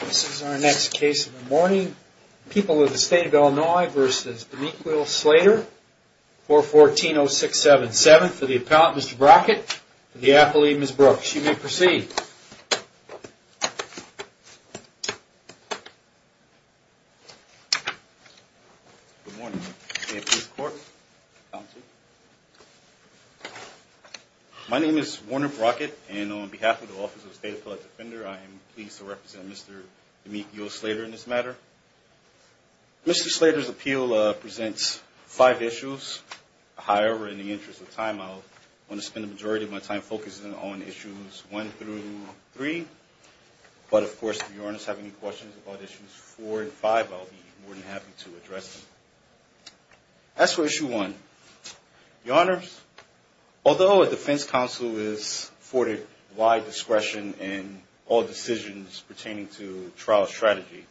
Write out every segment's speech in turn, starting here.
This is our next case of the morning. People of the State of Illinois v. D'Amico Slater, 414-0677. For the appellant, Mr. Brockett. For the athlete, Ms. Brooks. You may proceed. Good morning. May it please the court. My name is Warner Brockett, and on behalf of the Office of the State Appellate Defender, I am pleased to represent Mr. D'Amico Slater in this matter. Mr. Slater's appeal presents five issues. However, in the interest of time, I'll want to spend the majority of my time focusing on issues one through three. But of course, if your honors have any questions about issues four and five, I'll be more than happy to address them. As for issue one, your honors, although a defense counsel is afforded wide discretion in all decisions pertaining to trial strategy,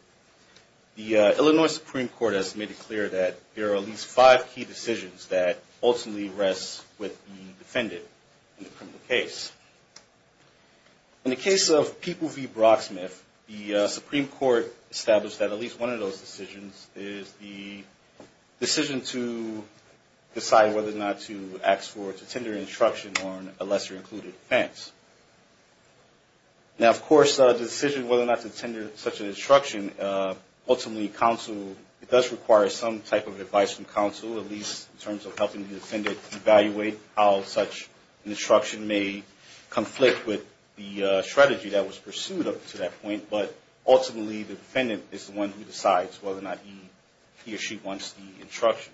the Illinois Supreme Court has made it clear that there are at least five key decisions that ultimately rest with the defendant in the criminal case. In the case of People v. Brocksmith, the Supreme Court established that at least one of those decisions is the decision to decide whether or not to ask for or to tender an instruction on a lesser-included offense. Now, of course, the decision whether or not to tender such an instruction, ultimately counsel, it does require some type of advice from counsel, at least in terms of helping the defendant evaluate how such an instruction may be used. Counsel can't conflict with the strategy that was pursued up to that point, but ultimately the defendant is the one who decides whether or not he or she wants the instruction.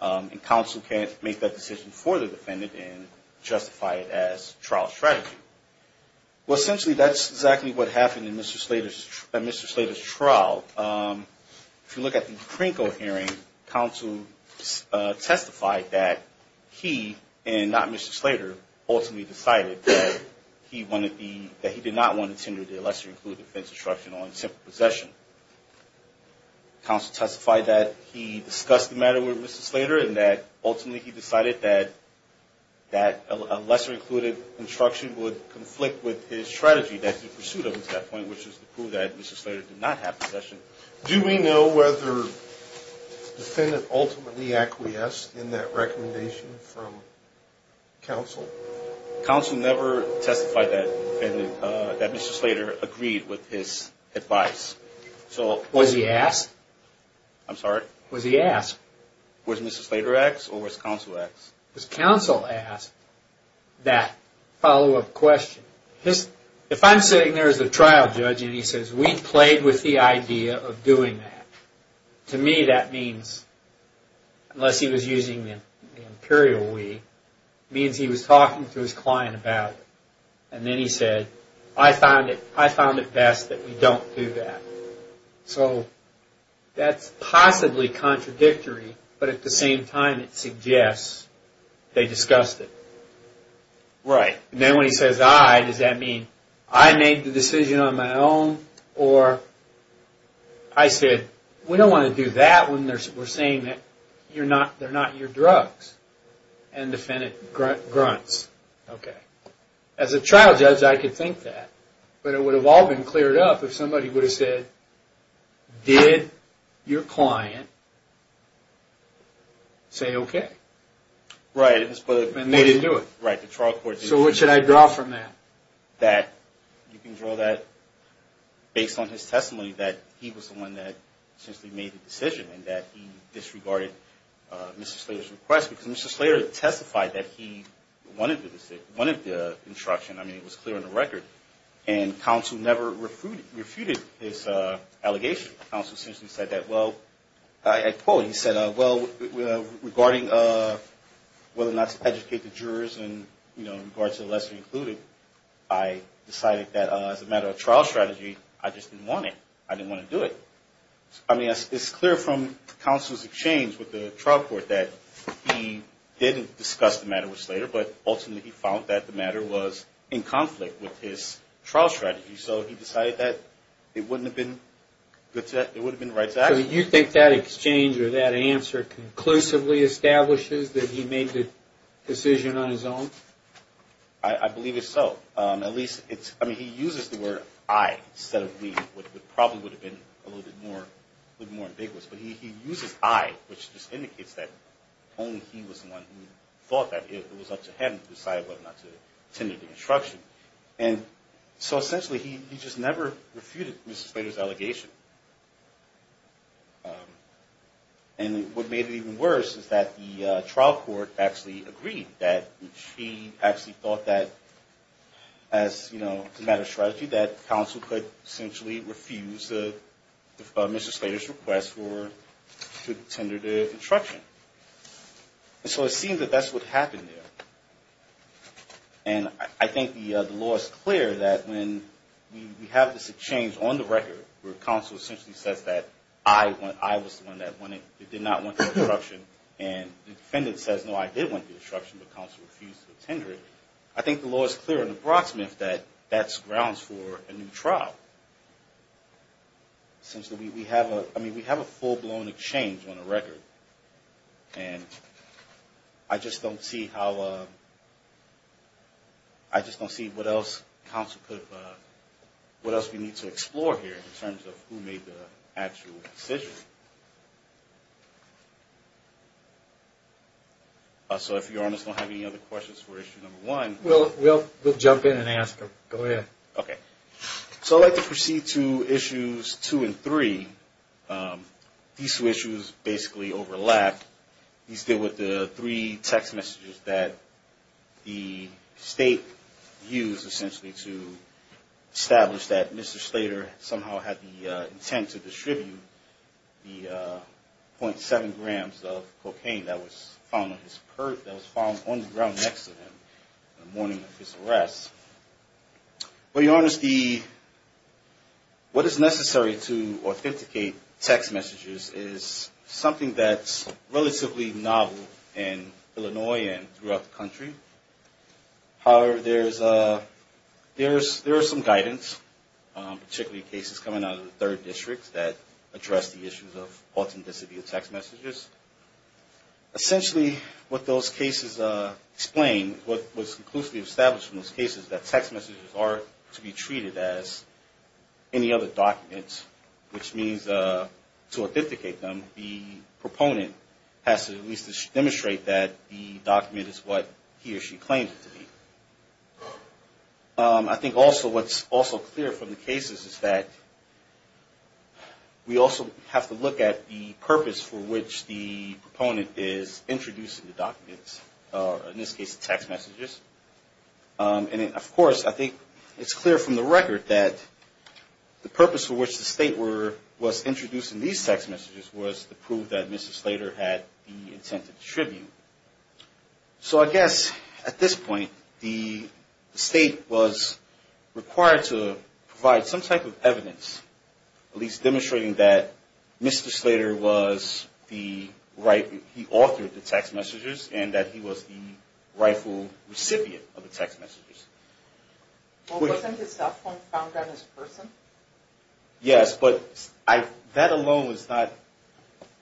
And counsel can't make that decision for the defendant and justify it as trial strategy. Well, essentially that's exactly what happened in Mr. Slater's trial. If you look at the Krinko hearing, counsel testified that he, and not Mr. Slater, ultimately decided that he did not want to tender the lesser-included offense instruction on attempted possession. Counsel testified that he discussed the matter with Mr. Slater and that ultimately he decided that a lesser-included instruction would conflict with his strategy that he pursued up to that point, which was to prove that Mr. Slater did not have possession. Do we know whether the defendant ultimately acquiesced in that recommendation from counsel? Counsel never testified that Mr. Slater agreed with his advice. Was he asked? I'm sorry? Was he asked? Was Mr. Slater asked or was counsel asked? Was counsel asked that follow-up question? If I'm sitting there as a trial judge and he says, we played with the idea of doing that, to me that means, unless he was using the imperial we, means he was talking to his client about it. And then he said, I found it best that we don't do that. So that's possibly contradictory, but at the same time it suggests they discussed it. Right. And then when he says I, does that mean I made the decision on my own or I said, we don't want to do that when we're saying that they're not your drugs. And the defendant grunts. Okay. As a trial judge, I could think that. But it would have all been cleared up if somebody would have said, did your client say okay? Right. And they didn't do it. Right. The trial court didn't do it. So what should I draw from that? That you can draw that based on his testimony that he was the one that essentially made the decision and that he disregarded Mr. Slater's request. Because Mr. Slater testified that he wanted the instruction. I mean, it was clear on the record. And counsel never refuted his allegation. Counsel essentially said that, well, I quote, he said, well, regarding whether or not to educate the jurors in regards to the lesser included, I decided that as a matter of trial strategy, I just didn't want it. I didn't want to do it. I mean, it's clear from counsel's exchange with the trial court that he didn't discuss the matter with Slater, but ultimately he found that the matter was in conflict with his trial strategy. So he decided that it wouldn't have been good to that. It would have been the right to act. So you think that exchange or that answer conclusively establishes that he made the decision on his own? I believe it's so. At least it's – I mean, he uses the word I instead of me, which probably would have been a little bit more ambiguous. But he uses I, which just indicates that only he was the one who thought that it was up to him to decide whether or not to tender the instruction. And so essentially he just never refuted Mr. Slater's allegation. And what made it even worse is that the trial court actually agreed that he actually thought that as, you know, as a matter of strategy, that counsel could essentially refuse Mr. Slater's request to tender the instruction. And so it seems that that's what happened there. And I think the law is clear that when we have this exchange on the record where counsel essentially says that I was the one that did not want the instruction and the defendant says, no, I did want the instruction, but counsel refused to tender it. I think the law is clear in the Brocksmith that that's grounds for a new trial. Essentially we have a full-blown exchange on the record. And I just don't see how, I just don't see what else counsel could, what else we need to explore here in terms of who made the actual decision. So if you all just don't have any other questions for issue number one. We'll jump in and ask them. Go ahead. Okay. So I'd like to proceed to issues two and three. These two issues basically overlap. These deal with the three text messages that the state used essentially to establish that Mr. Slater somehow had the intent to distribute the .7 grams of cocaine that was found on the ground next to him in the morning of his arrest. To be honest, what is necessary to authenticate text messages is something that's relatively novel in Illinois and throughout the country. However, there is some guidance, particularly cases coming out of the third district that address the issues of authenticity of text messages. Essentially what those cases explain, what was conclusively established from those cases is that text messages are, in fact, a way to be treated as any other documents, which means to authenticate them, the proponent has to at least demonstrate that the document is what he or she claims it to be. I think also what's also clear from the cases is that we also have to look at the purpose for which the proponent is introducing the documents, or in this case the text messages. And of course, I think it's clear from the record that the purpose for which the state was introducing these text messages was to prove that Mr. Slater had the intent to distribute. So I guess at this point, the state was required to provide some type of evidence, at least demonstrating that Mr. Slater was the rightful, he authored the text messages, and that he was the rightful recipient. Well, wasn't his cell phone found on his person? Yes, but that alone was not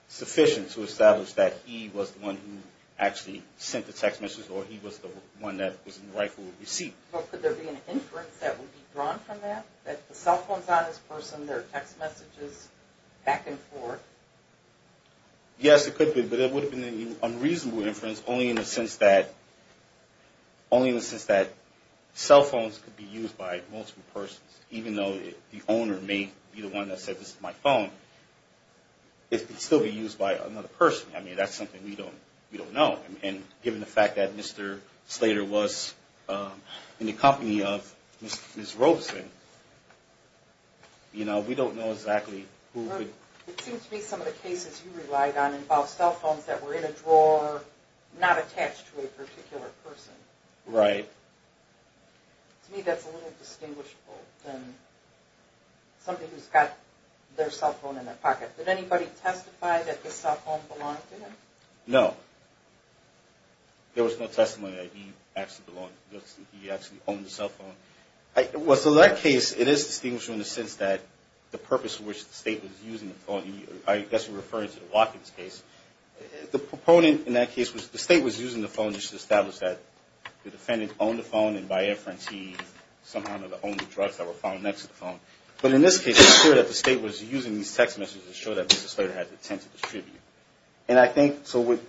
sufficient to establish that he was the one who actually sent the text messages or he was the one that was in the rightful receipt. Well, could there be an inference that would be drawn from that, that the cell phone's on his person, there are text messages back and forth? Yes, it could be, but it would have been an unreasonable inference, only in the sense that he was the rightful recipient of the text messages. Only in the sense that cell phones could be used by multiple persons, even though the owner may be the one that said, this is my phone. It could still be used by another person. I mean, that's something we don't know. And given the fact that Mr. Slater was in the company of Ms. Robeson, you know, we don't know exactly who could... It seems to me some of the cases you relied on involved cell phones that were in a drawer, not attached to a particular person. Right. To me that's a little distinguishable than somebody who's got their cell phone in their pocket. Did anybody testify that this cell phone belonged to them? No. There was no testimony that he actually owned the cell phone. Well, so that case, it is distinguishable in the sense that the purpose for which the State was using the phone, I guess you're referring to the Watkins case. The proponent in that case was the State was using the phone just to establish that the defendant owned the phone, and by inference he somehow owned the drugs that were found next to the phone. But in this case it's clear that the State was using these text messages to show that Mr. Slater had the intent to distribute. And I think, so with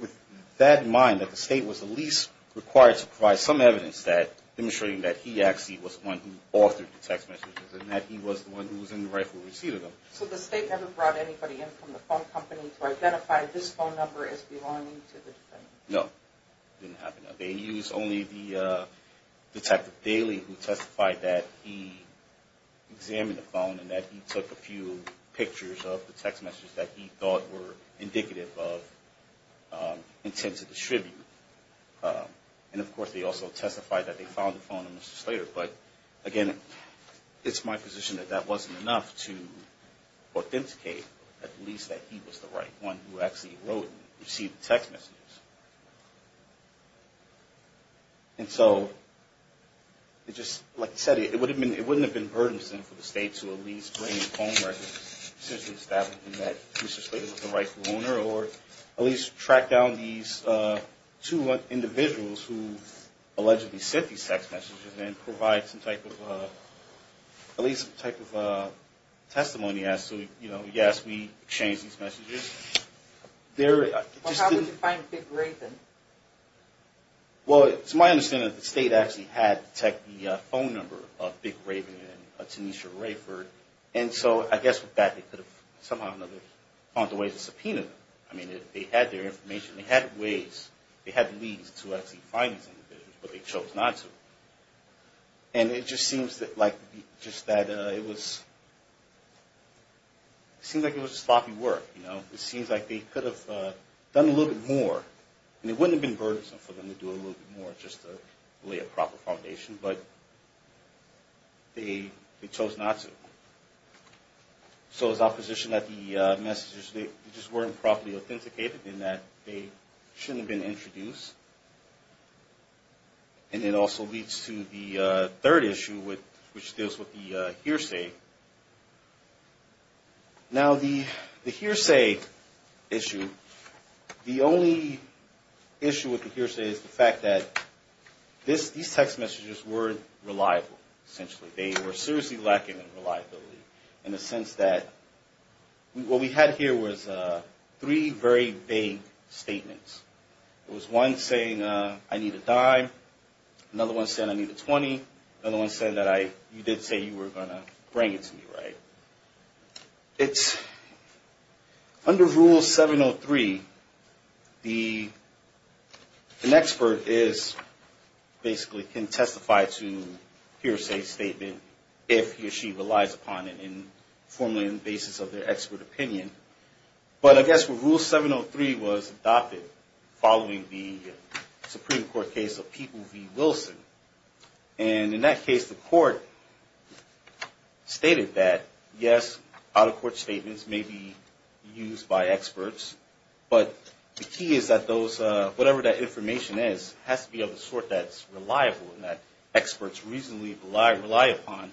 that in mind, that the State was at least required to provide some evidence that demonstrating that he actually was the one who authored the text messages, and that he was the one who was in the rightful receipt of them. So the State never brought anybody in from the phone company to identify this phone number as belonging to the defendant? No. It didn't happen. They used only the Detective Daly who testified that he examined the phone and that he took a few pictures of the text messages that he thought were indicative of intent to distribute. And of course they also testified that they found the phone in Mr. Slater. But again, it's my position that that wasn't enough to authenticate at least that he was the right one who actually wrote and received the text messages. And so, it just, like I said, it wouldn't have been burdensome for the State to at least bring his own records to establish that Mr. Slater was the rightful owner, or at least track down these two individuals who allegedly sent these text messages and provide evidence that he was the rightful owner. And so, I guess, it's my understanding that the State did provide some type of, at least some type of testimony as to, you know, yes, we exchanged these messages. Well, how would you find Big Raven? Well, it's my understanding that the State actually had the phone number of Big Raven and Tanisha Rayford, and so I guess with that they could have somehow or another found a way to subpoena them. I mean, they had their information, they had ways, they had leads to actually find these individuals, but they chose not to. And it just seems that, like, just that it was, it seems like it was sloppy work, you know. It seems like they could have done a little bit more, and it wouldn't have been burdensome for them to do a little bit more just to lay a proper foundation, but they chose not to. So, it's my position that the messages, they just weren't properly authenticated and that they shouldn't have been introduced. And it also leads to the third issue, which deals with the hearsay. Now, the hearsay issue, the only issue with the hearsay is the fact that these text messages were reliable, essentially. They were seriously lacking in reliability in the sense that what we had here was three very vague statements. It was one saying, I need a dime, another one saying I need a 20, another one saying that I, you did say you were going to bring it to me, right? It's, under Rule 703, the, an expert is, basically can testify to hearsay statement if he or she relies upon it in, formally on the basis of their expert opinion. But I guess with Rule 703 was adopted following the Supreme Court case of People v. Wilson. And in that case, the court stated that, yes, out-of-court statements may be used by experts, but the key is that those, whatever that information is, has to be of the sort that's reliable and that experts reasonably rely upon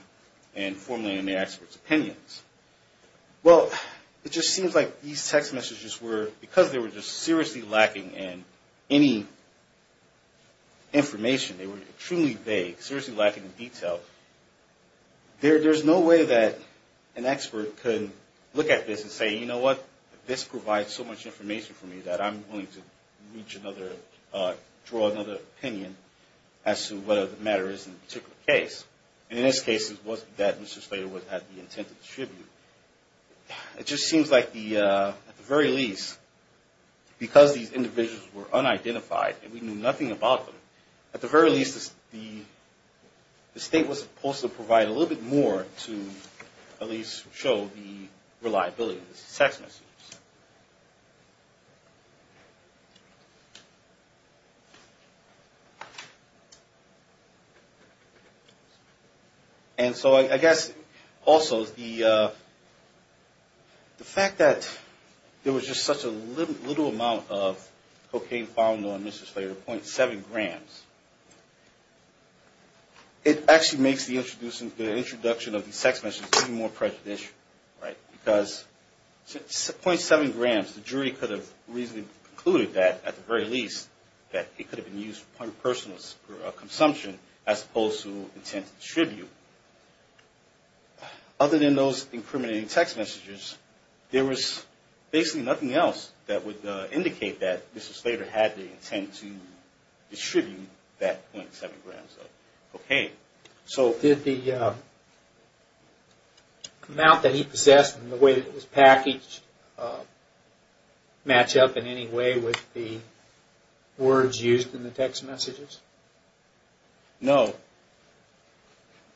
and formally in the expert's opinions. Well, it just seems like these text messages were, because they were just seriously lacking in any information, they were truly vague, seriously lacking in detail, there's no way that an expert could look at this and say, you know what, this provides so much information for me that I'm willing to reach another, draw another opinion as to whether the matter is in a particular case. And in this case, it wasn't that Mr. Slater had the intent to distribute. It just seems like the, at the very least, because these individuals were unidentified and we knew nothing about them, at the very least, the state was supposed to provide a little bit more to at least show the reliability of these text messages. And so I guess also the fact that there was just such a little amount of cocaine found on Mr. Slater, 0.7 grams, it actually makes the introduction of these text messages even more prejudicial, right, because 0.7 grams, the jury could have reasonably concluded that, at the very least, that it could have been used for point of personal consumption as opposed to intent to distribute. Other than those incriminating text messages, there was basically nothing else that would indicate that Mr. Slater had the intent to distribute that 0.7 grams of cocaine. So did the amount that he possessed and the way that it was packaged match up in any way with the words used in the text messages? No.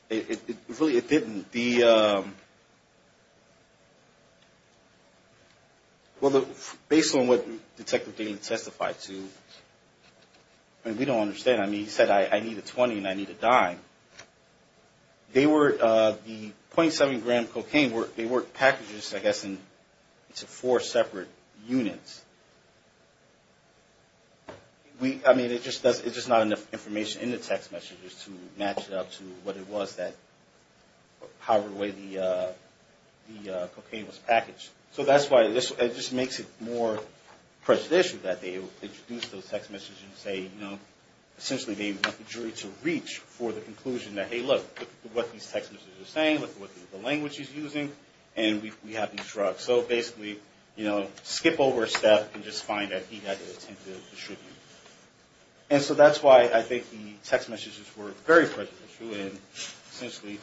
It really, it didn't. Well, based on what Detective Daly testified to, I mean, we don't understand. I mean, he said, I need a 20 and I need a dime. They were, the 0.7 gram cocaine, they were packaged, I guess, into four separate units. I mean, it's just not enough information in the text messages to match it up to what it was that, however way the cocaine was packaged. So that's why it just makes it more prejudicial that they introduce those text messages and say, you know, essentially they want the jury to reach for the conclusion that, hey, look, look at what these text messages are saying, look at what the language he's using, and we have these drugs. So basically, you know, skip over a step and just find that he had the intent to distribute. And so that's why I think the text messages were very prejudicial and essentially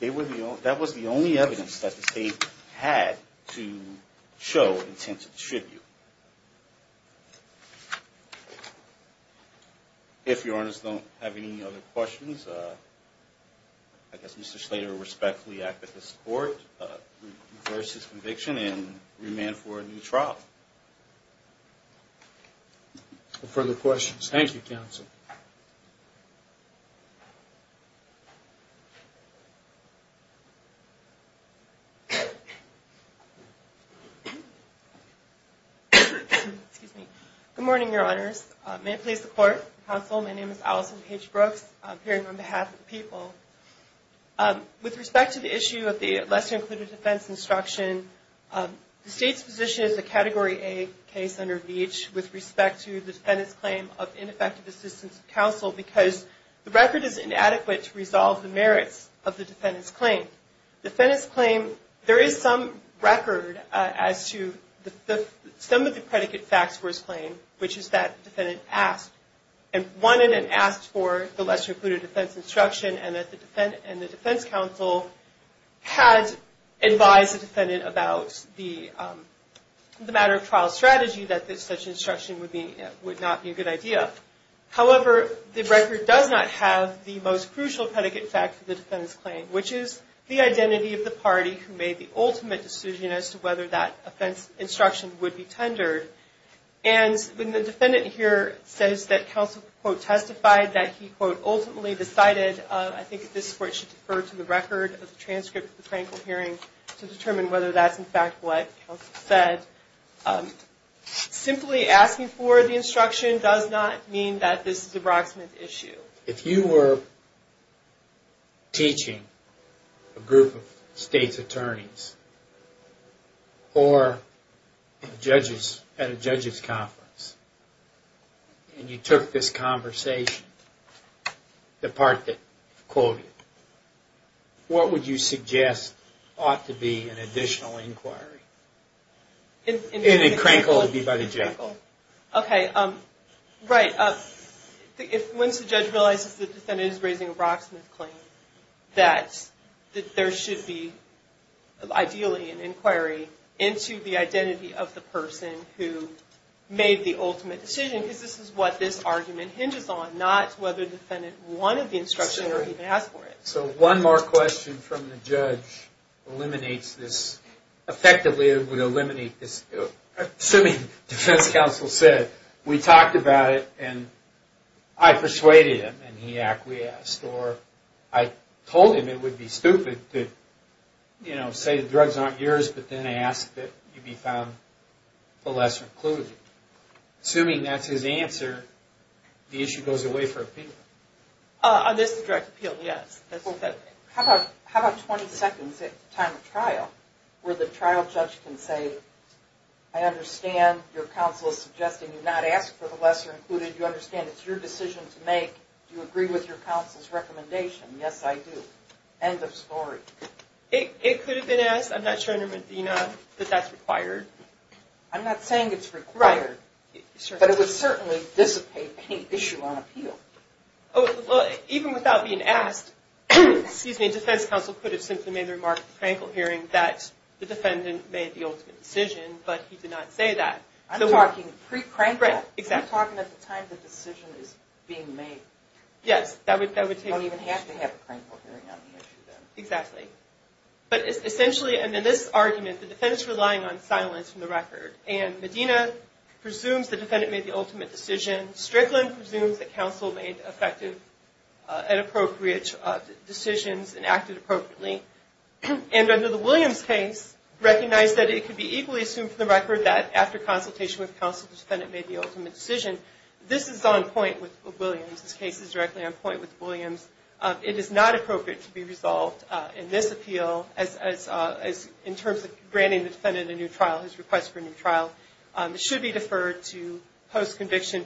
they were the only, that was the only evidence that the state had to show intent to distribute. If your Honor's don't have any other questions, I guess Mr. Slater respectfully acted in support versus the jury. I think he should be released on his conviction and remanded for a new trial. Further questions? Thank you, Counsel. Good morning, Your Honors. May it please the Court, Counsel, my name is Allison Paige Brooks. I'm here on behalf of the people. With respect to the issue of the lesser-included defense instruction, the State's position is a Category A case under Beech with respect to the defendant's claim of ineffective assistance of counsel because the record is inadequate to resolve the merits of the defendant's claim. The defendant's claim, there is some record as to some of the predicate facts for his claim, which is that the defendant asked and wanted and asked for the lesser-included defense instruction and that they and the defense counsel had advised the defendant about the matter of trial strategy that such instruction would not be a good idea. However, the record does not have the most crucial predicate fact for the defendant's claim, which is the identity of the party who made the ultimate decision as to whether that offense instruction would be tendered. And when the defendant here says that counsel, quote, testified that he, quote, ultimately decided, I think it's where it should defer to the record of the transcript of the practical hearing to determine whether that's, in fact, what counsel said, simply asking for the instruction does not mean that this is a proximate issue. If you were teaching a group of State's attorneys or judges at a judges' conference and you took this conversation, the question would be, what would you suggest ought to be an additional inquiry? And then Crankle would be by the judge. Okay. Right. Once the judge realizes the defendant is raising a proximate claim, that there should be, ideally, an inquiry into the identity of the person who made the ultimate decision, because this is what this argument hinges on, not whether the defendant wanted the instruction or even asked for it. So one more question from the judge eliminates this, effectively it would eliminate this, assuming defense counsel said, we talked about it and I persuaded him and he acquiesced, or I told him it would be stupid to, you know, say the drugs aren't yours, but then ask that you be found lesser included. Assuming that's his answer, the issue goes away for a period of time. How about 20 seconds at the time of trial where the trial judge can say, I understand your counsel is suggesting you not ask for the lesser included, you understand it's your decision to make, do you agree with your counsel's recommendation? Yes, I do. End of story. It could have been asked, I'm not sure, under Medina, that that's required. I'm not saying it's required, but it would certainly dissipate any issue on appeal. Oh, well, even without being asked, excuse me, defense counsel could have simply made the remark at the crankle hearing that the defendant made the ultimate decision, but he did not say that. I'm talking pre-crankle, I'm talking at the time the decision is being made. Yes, that would take place. But essentially, in this argument, the defendant is relying on silence from the record, and Medina presumes the defendant made the ultimate decision, Strickland presumes that counsel made effective and appropriate decisions and acted appropriately, and under the Williams case, recognized that it could be equally assumed from the record that after consultation with counsel, the defendant made the ultimate decision, this is on point with Williams. This case is directly on point with Williams. It is not appropriate to be resolved in this appeal in terms of granting the defendant a new trial, his request for a new trial. It should be deferred to post-conviction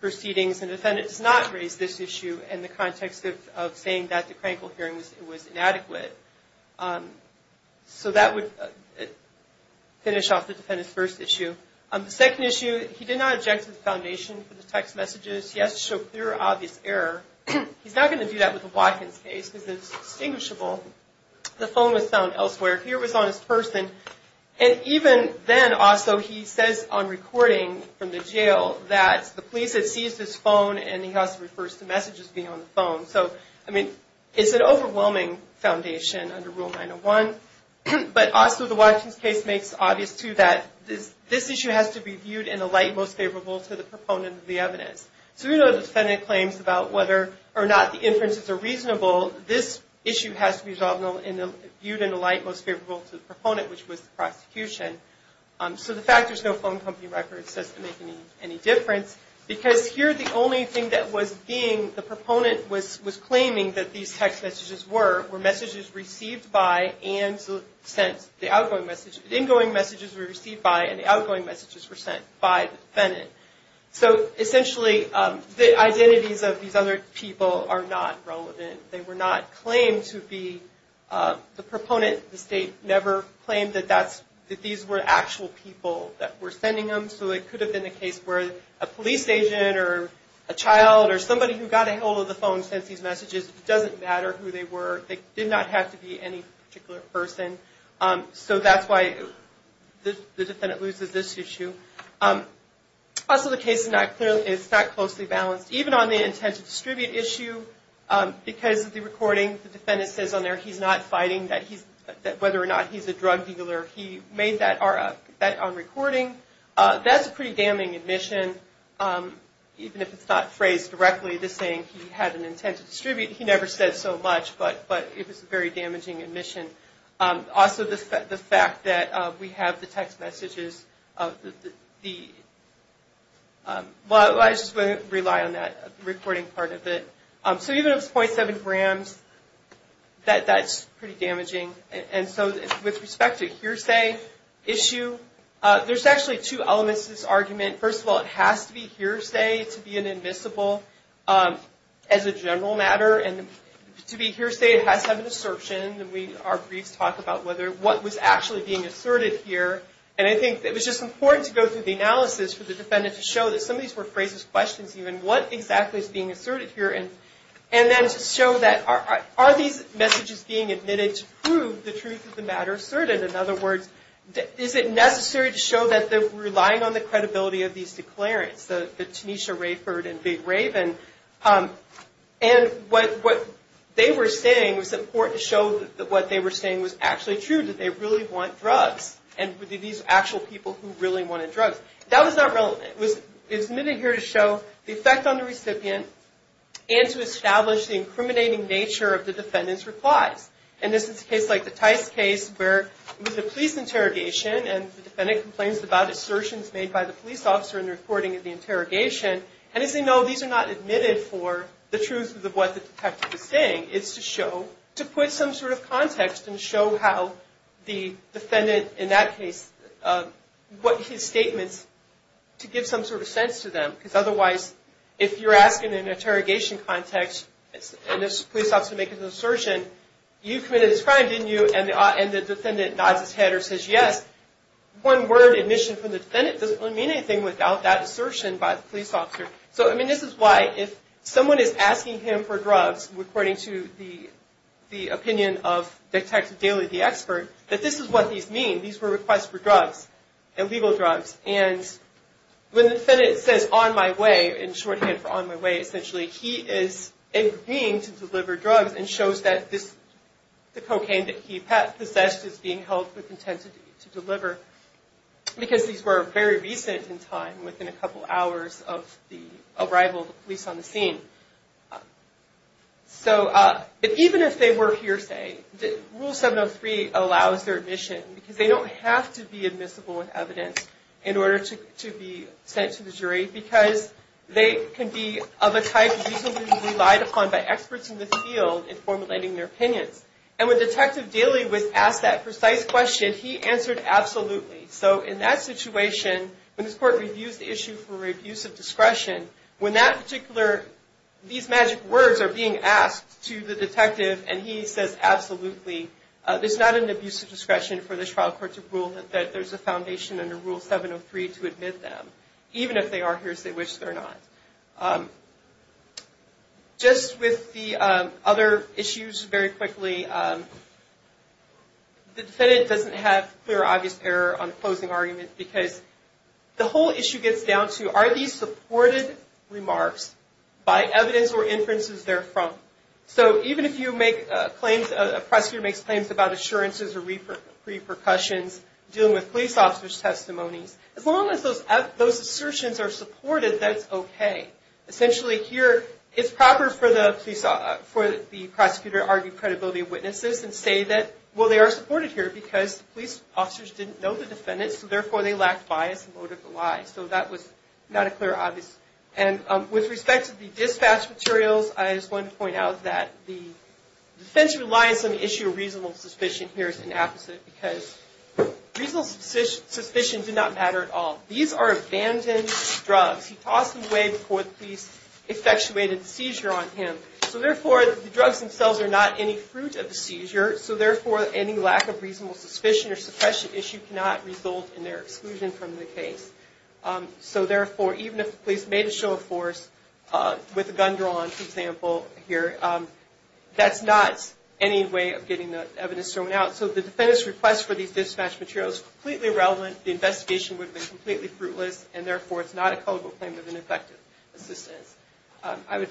proceedings, and the defendant does not raise this issue in the context of saying that the crankle hearing was inadequate. So that would finish off the defendant's first issue. The second issue, he did not object to the foundation for the text messages. He has to show clear, obvious error. He's not going to do that with the Watkins case, because it's distinguishable. The phone was found elsewhere. Here it was on his person, and even then, also, he says on recording from the jail that the police had seized his phone, and he also refers to messages being on the phone. So, I mean, it's an overwhelming foundation under Rule 901. But also, the Watkins case makes obvious, too, that this issue has to be viewed in a light most favorable to the proponent of the evidence. So even though the defendant claims about whether or not the inferences are reasonable, this issue has to be viewed in a light most favorable to the proponent, which was the prosecution. So the fact there's no phone company records doesn't make any difference, because here the only thing that was being, the proponent was claiming that these text messages were, were messages received by and sent, the outgoing message, the in-going messages were received by and the outgoing messages were sent by the defendant. So essentially, the identities of these other people are not relevant. They were not claimed to be the proponent. The state never claimed that that's, that these were actual people that were sending them, so it could have been the case where a police agent or a child or somebody who got a hold of the phone sent these messages. It doesn't matter who they were. They did not have to be any particular person. So that's why the defendant loses this issue. Also, the case is not clearly, it's not closely balanced. Even on the intent to distribute issue, because of the recording, the defendant says on there he's not fighting that he's, whether or not he's a drug dealer. He made that on recording. That's a pretty damning admission, even if it's not phrased directly to saying he had an intent to distribute. He never said so much, but it was a very damaging admission. Also, the fact that we have the text messages of the, well, I just won't rely on that recording part of it. So even if it's .7 grams, that's pretty damaging. And so, with respect to hearsay issue, there's actually two elements to this argument. First of all, it has to be admissible as a general matter. And to be hearsay, it has to have an assertion. Our briefs talk about what was actually being asserted here. And I think it was just important to go through the analysis for the defendant to show that some of these were phrases, questions even. What exactly is being asserted here? And then to show that, are these messages being admitted to prove the truth of the matter asserted? In other words, is it necessary to show that they're relying on the credibility of these declarants, the Tanisha Rayford and Big Raven? And what they were saying was important to show that what they were saying was actually true. Did they really want drugs? And were these actual people who really wanted drugs? That was not relevant. It was admitted here to show the effect on the recipient and to establish the incriminating nature of the defendant's replies. And this is a case like the Tice case where it was a police interrogation and the defendant complains about assertions made by the police officer in the recording of the case. And as they know, these are not admitted for the truth of what the detective is saying. It's to show, to put some sort of context and show how the defendant in that case, what his statements, to give some sort of sense to them. Because otherwise, if you're asking in an interrogation context and this police officer makes an assertion, you committed this crime, didn't you? And the defendant nods his head or says yes. One word, admission from the defendant, doesn't really mean anything without that assertion by the police officer. So, I mean, this is why if someone is asking him for drugs, according to the opinion of Detective Daly, the expert, that this is what these mean. These were requests for drugs, illegal drugs. And when the defendant says, on my way, in shorthand for on my way essentially, he is agreeing to deliver drugs and shows that the cocaine that he possessed is being held with intent to deliver. Because these were very recent in time, within a couple hours of the arrival of the police on the scene. So, even if they were hearsay, Rule 703 allows their admission. Because they don't have to be admissible in evidence in order to be sent to the jury. Because they can be of a type reasonably relied upon by experts in the field in formulating their opinions. And when Detective Daly was asked that precise question, he answered, absolutely. So, in that situation, when this court reviews the issue for abuse of discretion, when that particular, these magic words are being asked to the detective and he says, absolutely, there's not an abuse of discretion for this trial court to rule that there's a foundation under Rule 703 to admit them. Even if they are hearsay, which they're not. Just with the other issues, very quickly, the defendant does not have to be aware of the fact that the police officer is here, but doesn't have clear, obvious error on the closing argument. Because the whole issue gets down to, are these supported remarks by evidence or inferences they're from? So, even if a prosecutor makes claims about assurances or repercussions, dealing with police officers' testimonies, as long as those assertions are supported, that's okay. Essentially, here, it's proper for the defense to rely on some issue of reasonable suspicion, whereas the police officers didn't know the defendant, so therefore they lacked bias and motive to lie. So, that was not a clear, obvious. And with respect to the dispatch materials, I just want to point out that the defense relies on the issue of reasonable suspicion. Here, it's the opposite, because reasonable suspicion did not matter at all. These are abandoned drugs. He tossed them away before the police effectuated a seizure on him. So, therefore, the drugs themselves are not any fruit of the seizure. So, therefore, any lack of reasonable suspicion or suppression issue cannot result in their exclusion from the case. So, therefore, even if the police made a show of force, with a gun drawn, for example, here, that's not any way of getting the evidence thrown out. So, the defendant's request for these dispatch materials is completely irrelevant. The investigation would have been completely fruitless, and therefore, it's not a culpable claim of negligent, effective assistance. I would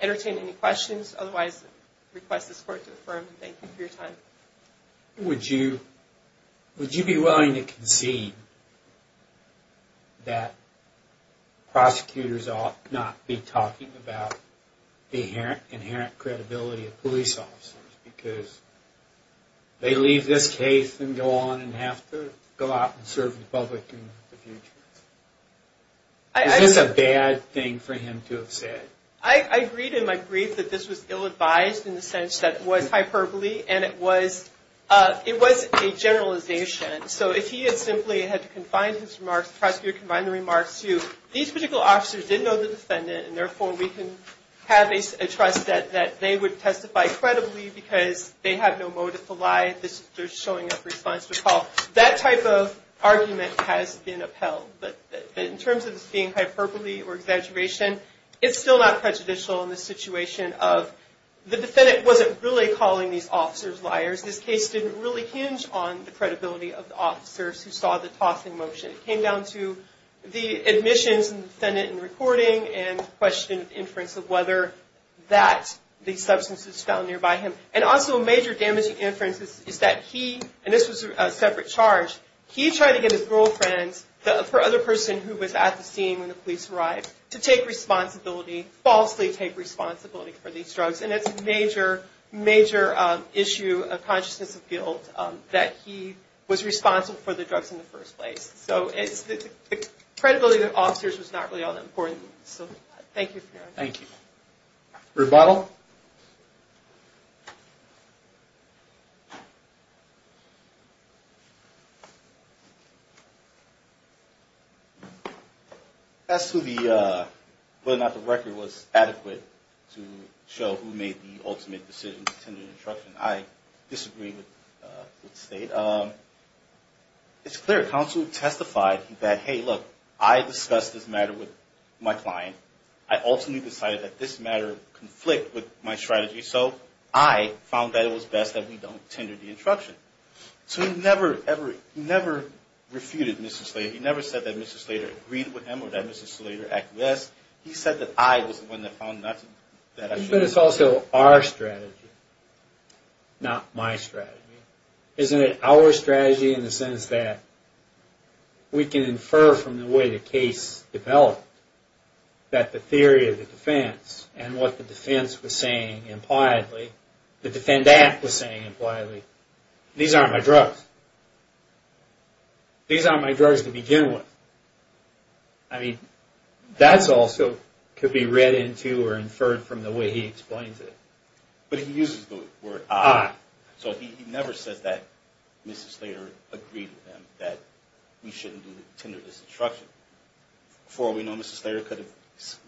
entertain any questions. Otherwise, I request this Court to affirm. Thank you for your time. Would you be willing to concede that prosecutors ought not be talking about the inherent credibility of police officers, because they leave this case and go on and have to go out and serve the public in the future? Is this a bad thing? Is this a bad thing for him to have said? I agreed in my brief that this was ill-advised, in the sense that it was hyperbole, and it was a generalization. So, if he had simply had to confine his remarks, the prosecutor confined the remarks to, these particular officers didn't know the defendant, and therefore, we can have a trust that they would testify credibly because they have no motive to lie. They're showing up for the defense to call. That type of argument has been upheld, but in terms of this being hyperbole or exaggeration, it's still not prejudicial in the situation of the defendant wasn't really calling these officers liars. This case didn't really hinge on the credibility of the officers who saw the tossing motion. It came down to the admissions and the defendant in reporting and the question of inference of whether that the substance was found nearby him. And also, a major damaging inference is that he, and this was a separate charge, he tried to get his girlfriends, the other person who was at the scene when the police arrived, to take responsibility, falsely take responsibility for these drugs. And it's a major, major issue of consciousness of guilt that he was responsible for the drugs in the first place. So, it's the credibility of the officers was not really all that important. So, thank you for your time. As to whether or not the record was adequate to show who made the ultimate decision to tender the instruction, I disagree with the state. It's clear counsel testified that, hey, look, I discussed this matter with my client. I ultimately decided that this matter conflicted with my strategy. So, I found that it was best that we don't tender the instruction. To me, that was a mistake. I never refuted Mr. Slater. He never said that Mr. Slater agreed with him or that Mr. Slater acquiesced. He said that I was the one that found that I should have. But it's also our strategy, not my strategy. Isn't it our strategy in the sense that we can infer from the way the case developed that the theory of the defense and what the defense was saying impliedly, the defendant was saying impliedly, these aren't my drugs. These aren't my drugs to begin with. I mean, that's also could be read into or inferred from the way he explains it. But he uses the word I. So, he never says that Mr. Slater agreed with him that we shouldn't tender this instruction. Before we know, Mr. Slater could have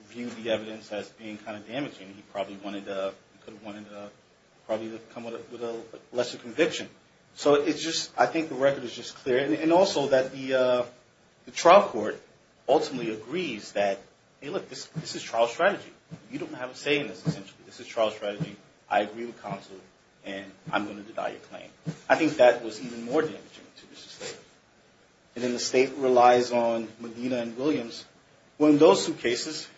viewed the evidence as being kind of damaging. He probably wanted to come with a lesser conviction. So, I think the record is just clear. And also that the trial court ultimately agrees that, hey, look, this is trial strategy. You don't have a say in this essentially. This is trial strategy. I agree with counsel and I'm going to deny your claim. I think that was even more damaging to Mr. Slater. And then the state relies on Medina and Williams. Well, in those two cases,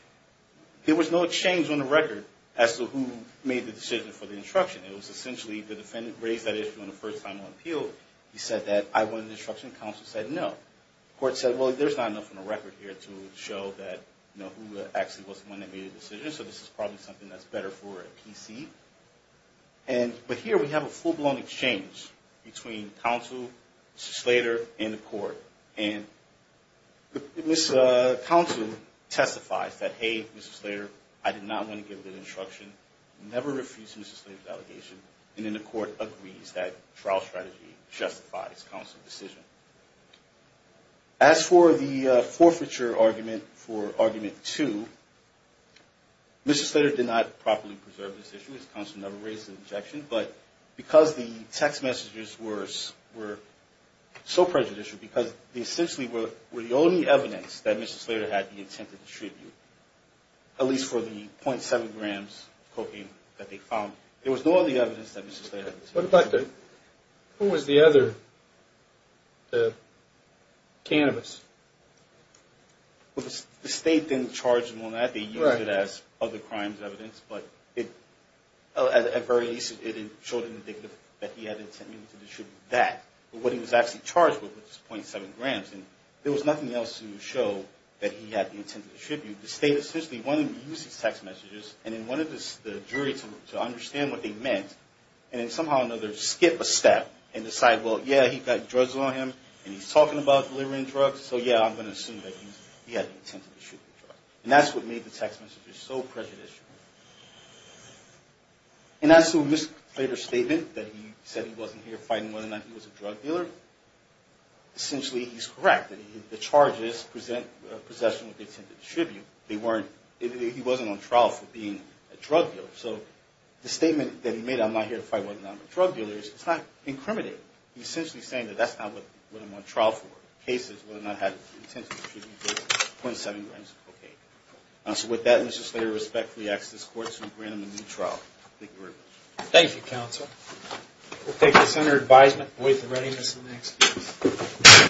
there was no exchange on the record as to who made the decision for the instruction. It was essentially the defendant raised that issue on the first time on appeal. He said that I wanted an instruction. Counsel said no. The court said, well, there's not enough on the record here to show that who actually was the one that made the decision. So, this is probably something that's better for a PC. But here we have a full-blown exchange between counsel, Mr. Slater, and the court. And counsel testifies that, hey, Mr. Slater, I refuse Mr. Slater's allegation. And then the court agrees that trial strategy justifies counsel's decision. As for the forfeiture argument for Argument 2, Mr. Slater did not properly preserve this issue. His counsel never raised an objection. But because the text messages were so prejudicial, because they essentially were the only evidence that Mr. Slater had the intent to distribute, there was no other evidence that Mr. Slater had the intent to distribute. Who was the other cannabis? The state didn't charge him on that. They used it as other crimes evidence. But at the very least, it showed in the dictum that he had the intent to distribute that. But what he was actually charged with was .7 grams. And there was nothing else to show that he had the intent to distribute. And so he went through all of these text messages, and then wanted the jury to understand what they meant. And then somehow or another skip a step and decide, well, yeah, he's got drugs on him, and he's talking about delivering drugs, so yeah, I'm going to assume that he had the intent to distribute the drugs. And that's what made the text messages so prejudicial. And as to Mr. Slater's statement that he said he wasn't here fighting whether or not he was a drug dealer, essentially he's correct. The charges present a possession with the intent to distribute. He wasn't on trial for being a drug dealer. So the statement that he made, I'm not here to fight whether or not I'm a drug dealer, it's not incriminating. He's essentially saying that that's not what I'm on trial for. The case is whether or not he had the intent to distribute .7 grams of cocaine. So with that, Mr. Slater respectfully asks this Court to grant him a new trial. Thank you very much. Thank you, Counsel. We'll take the Senator's advisement and wait for the readiness of the next case.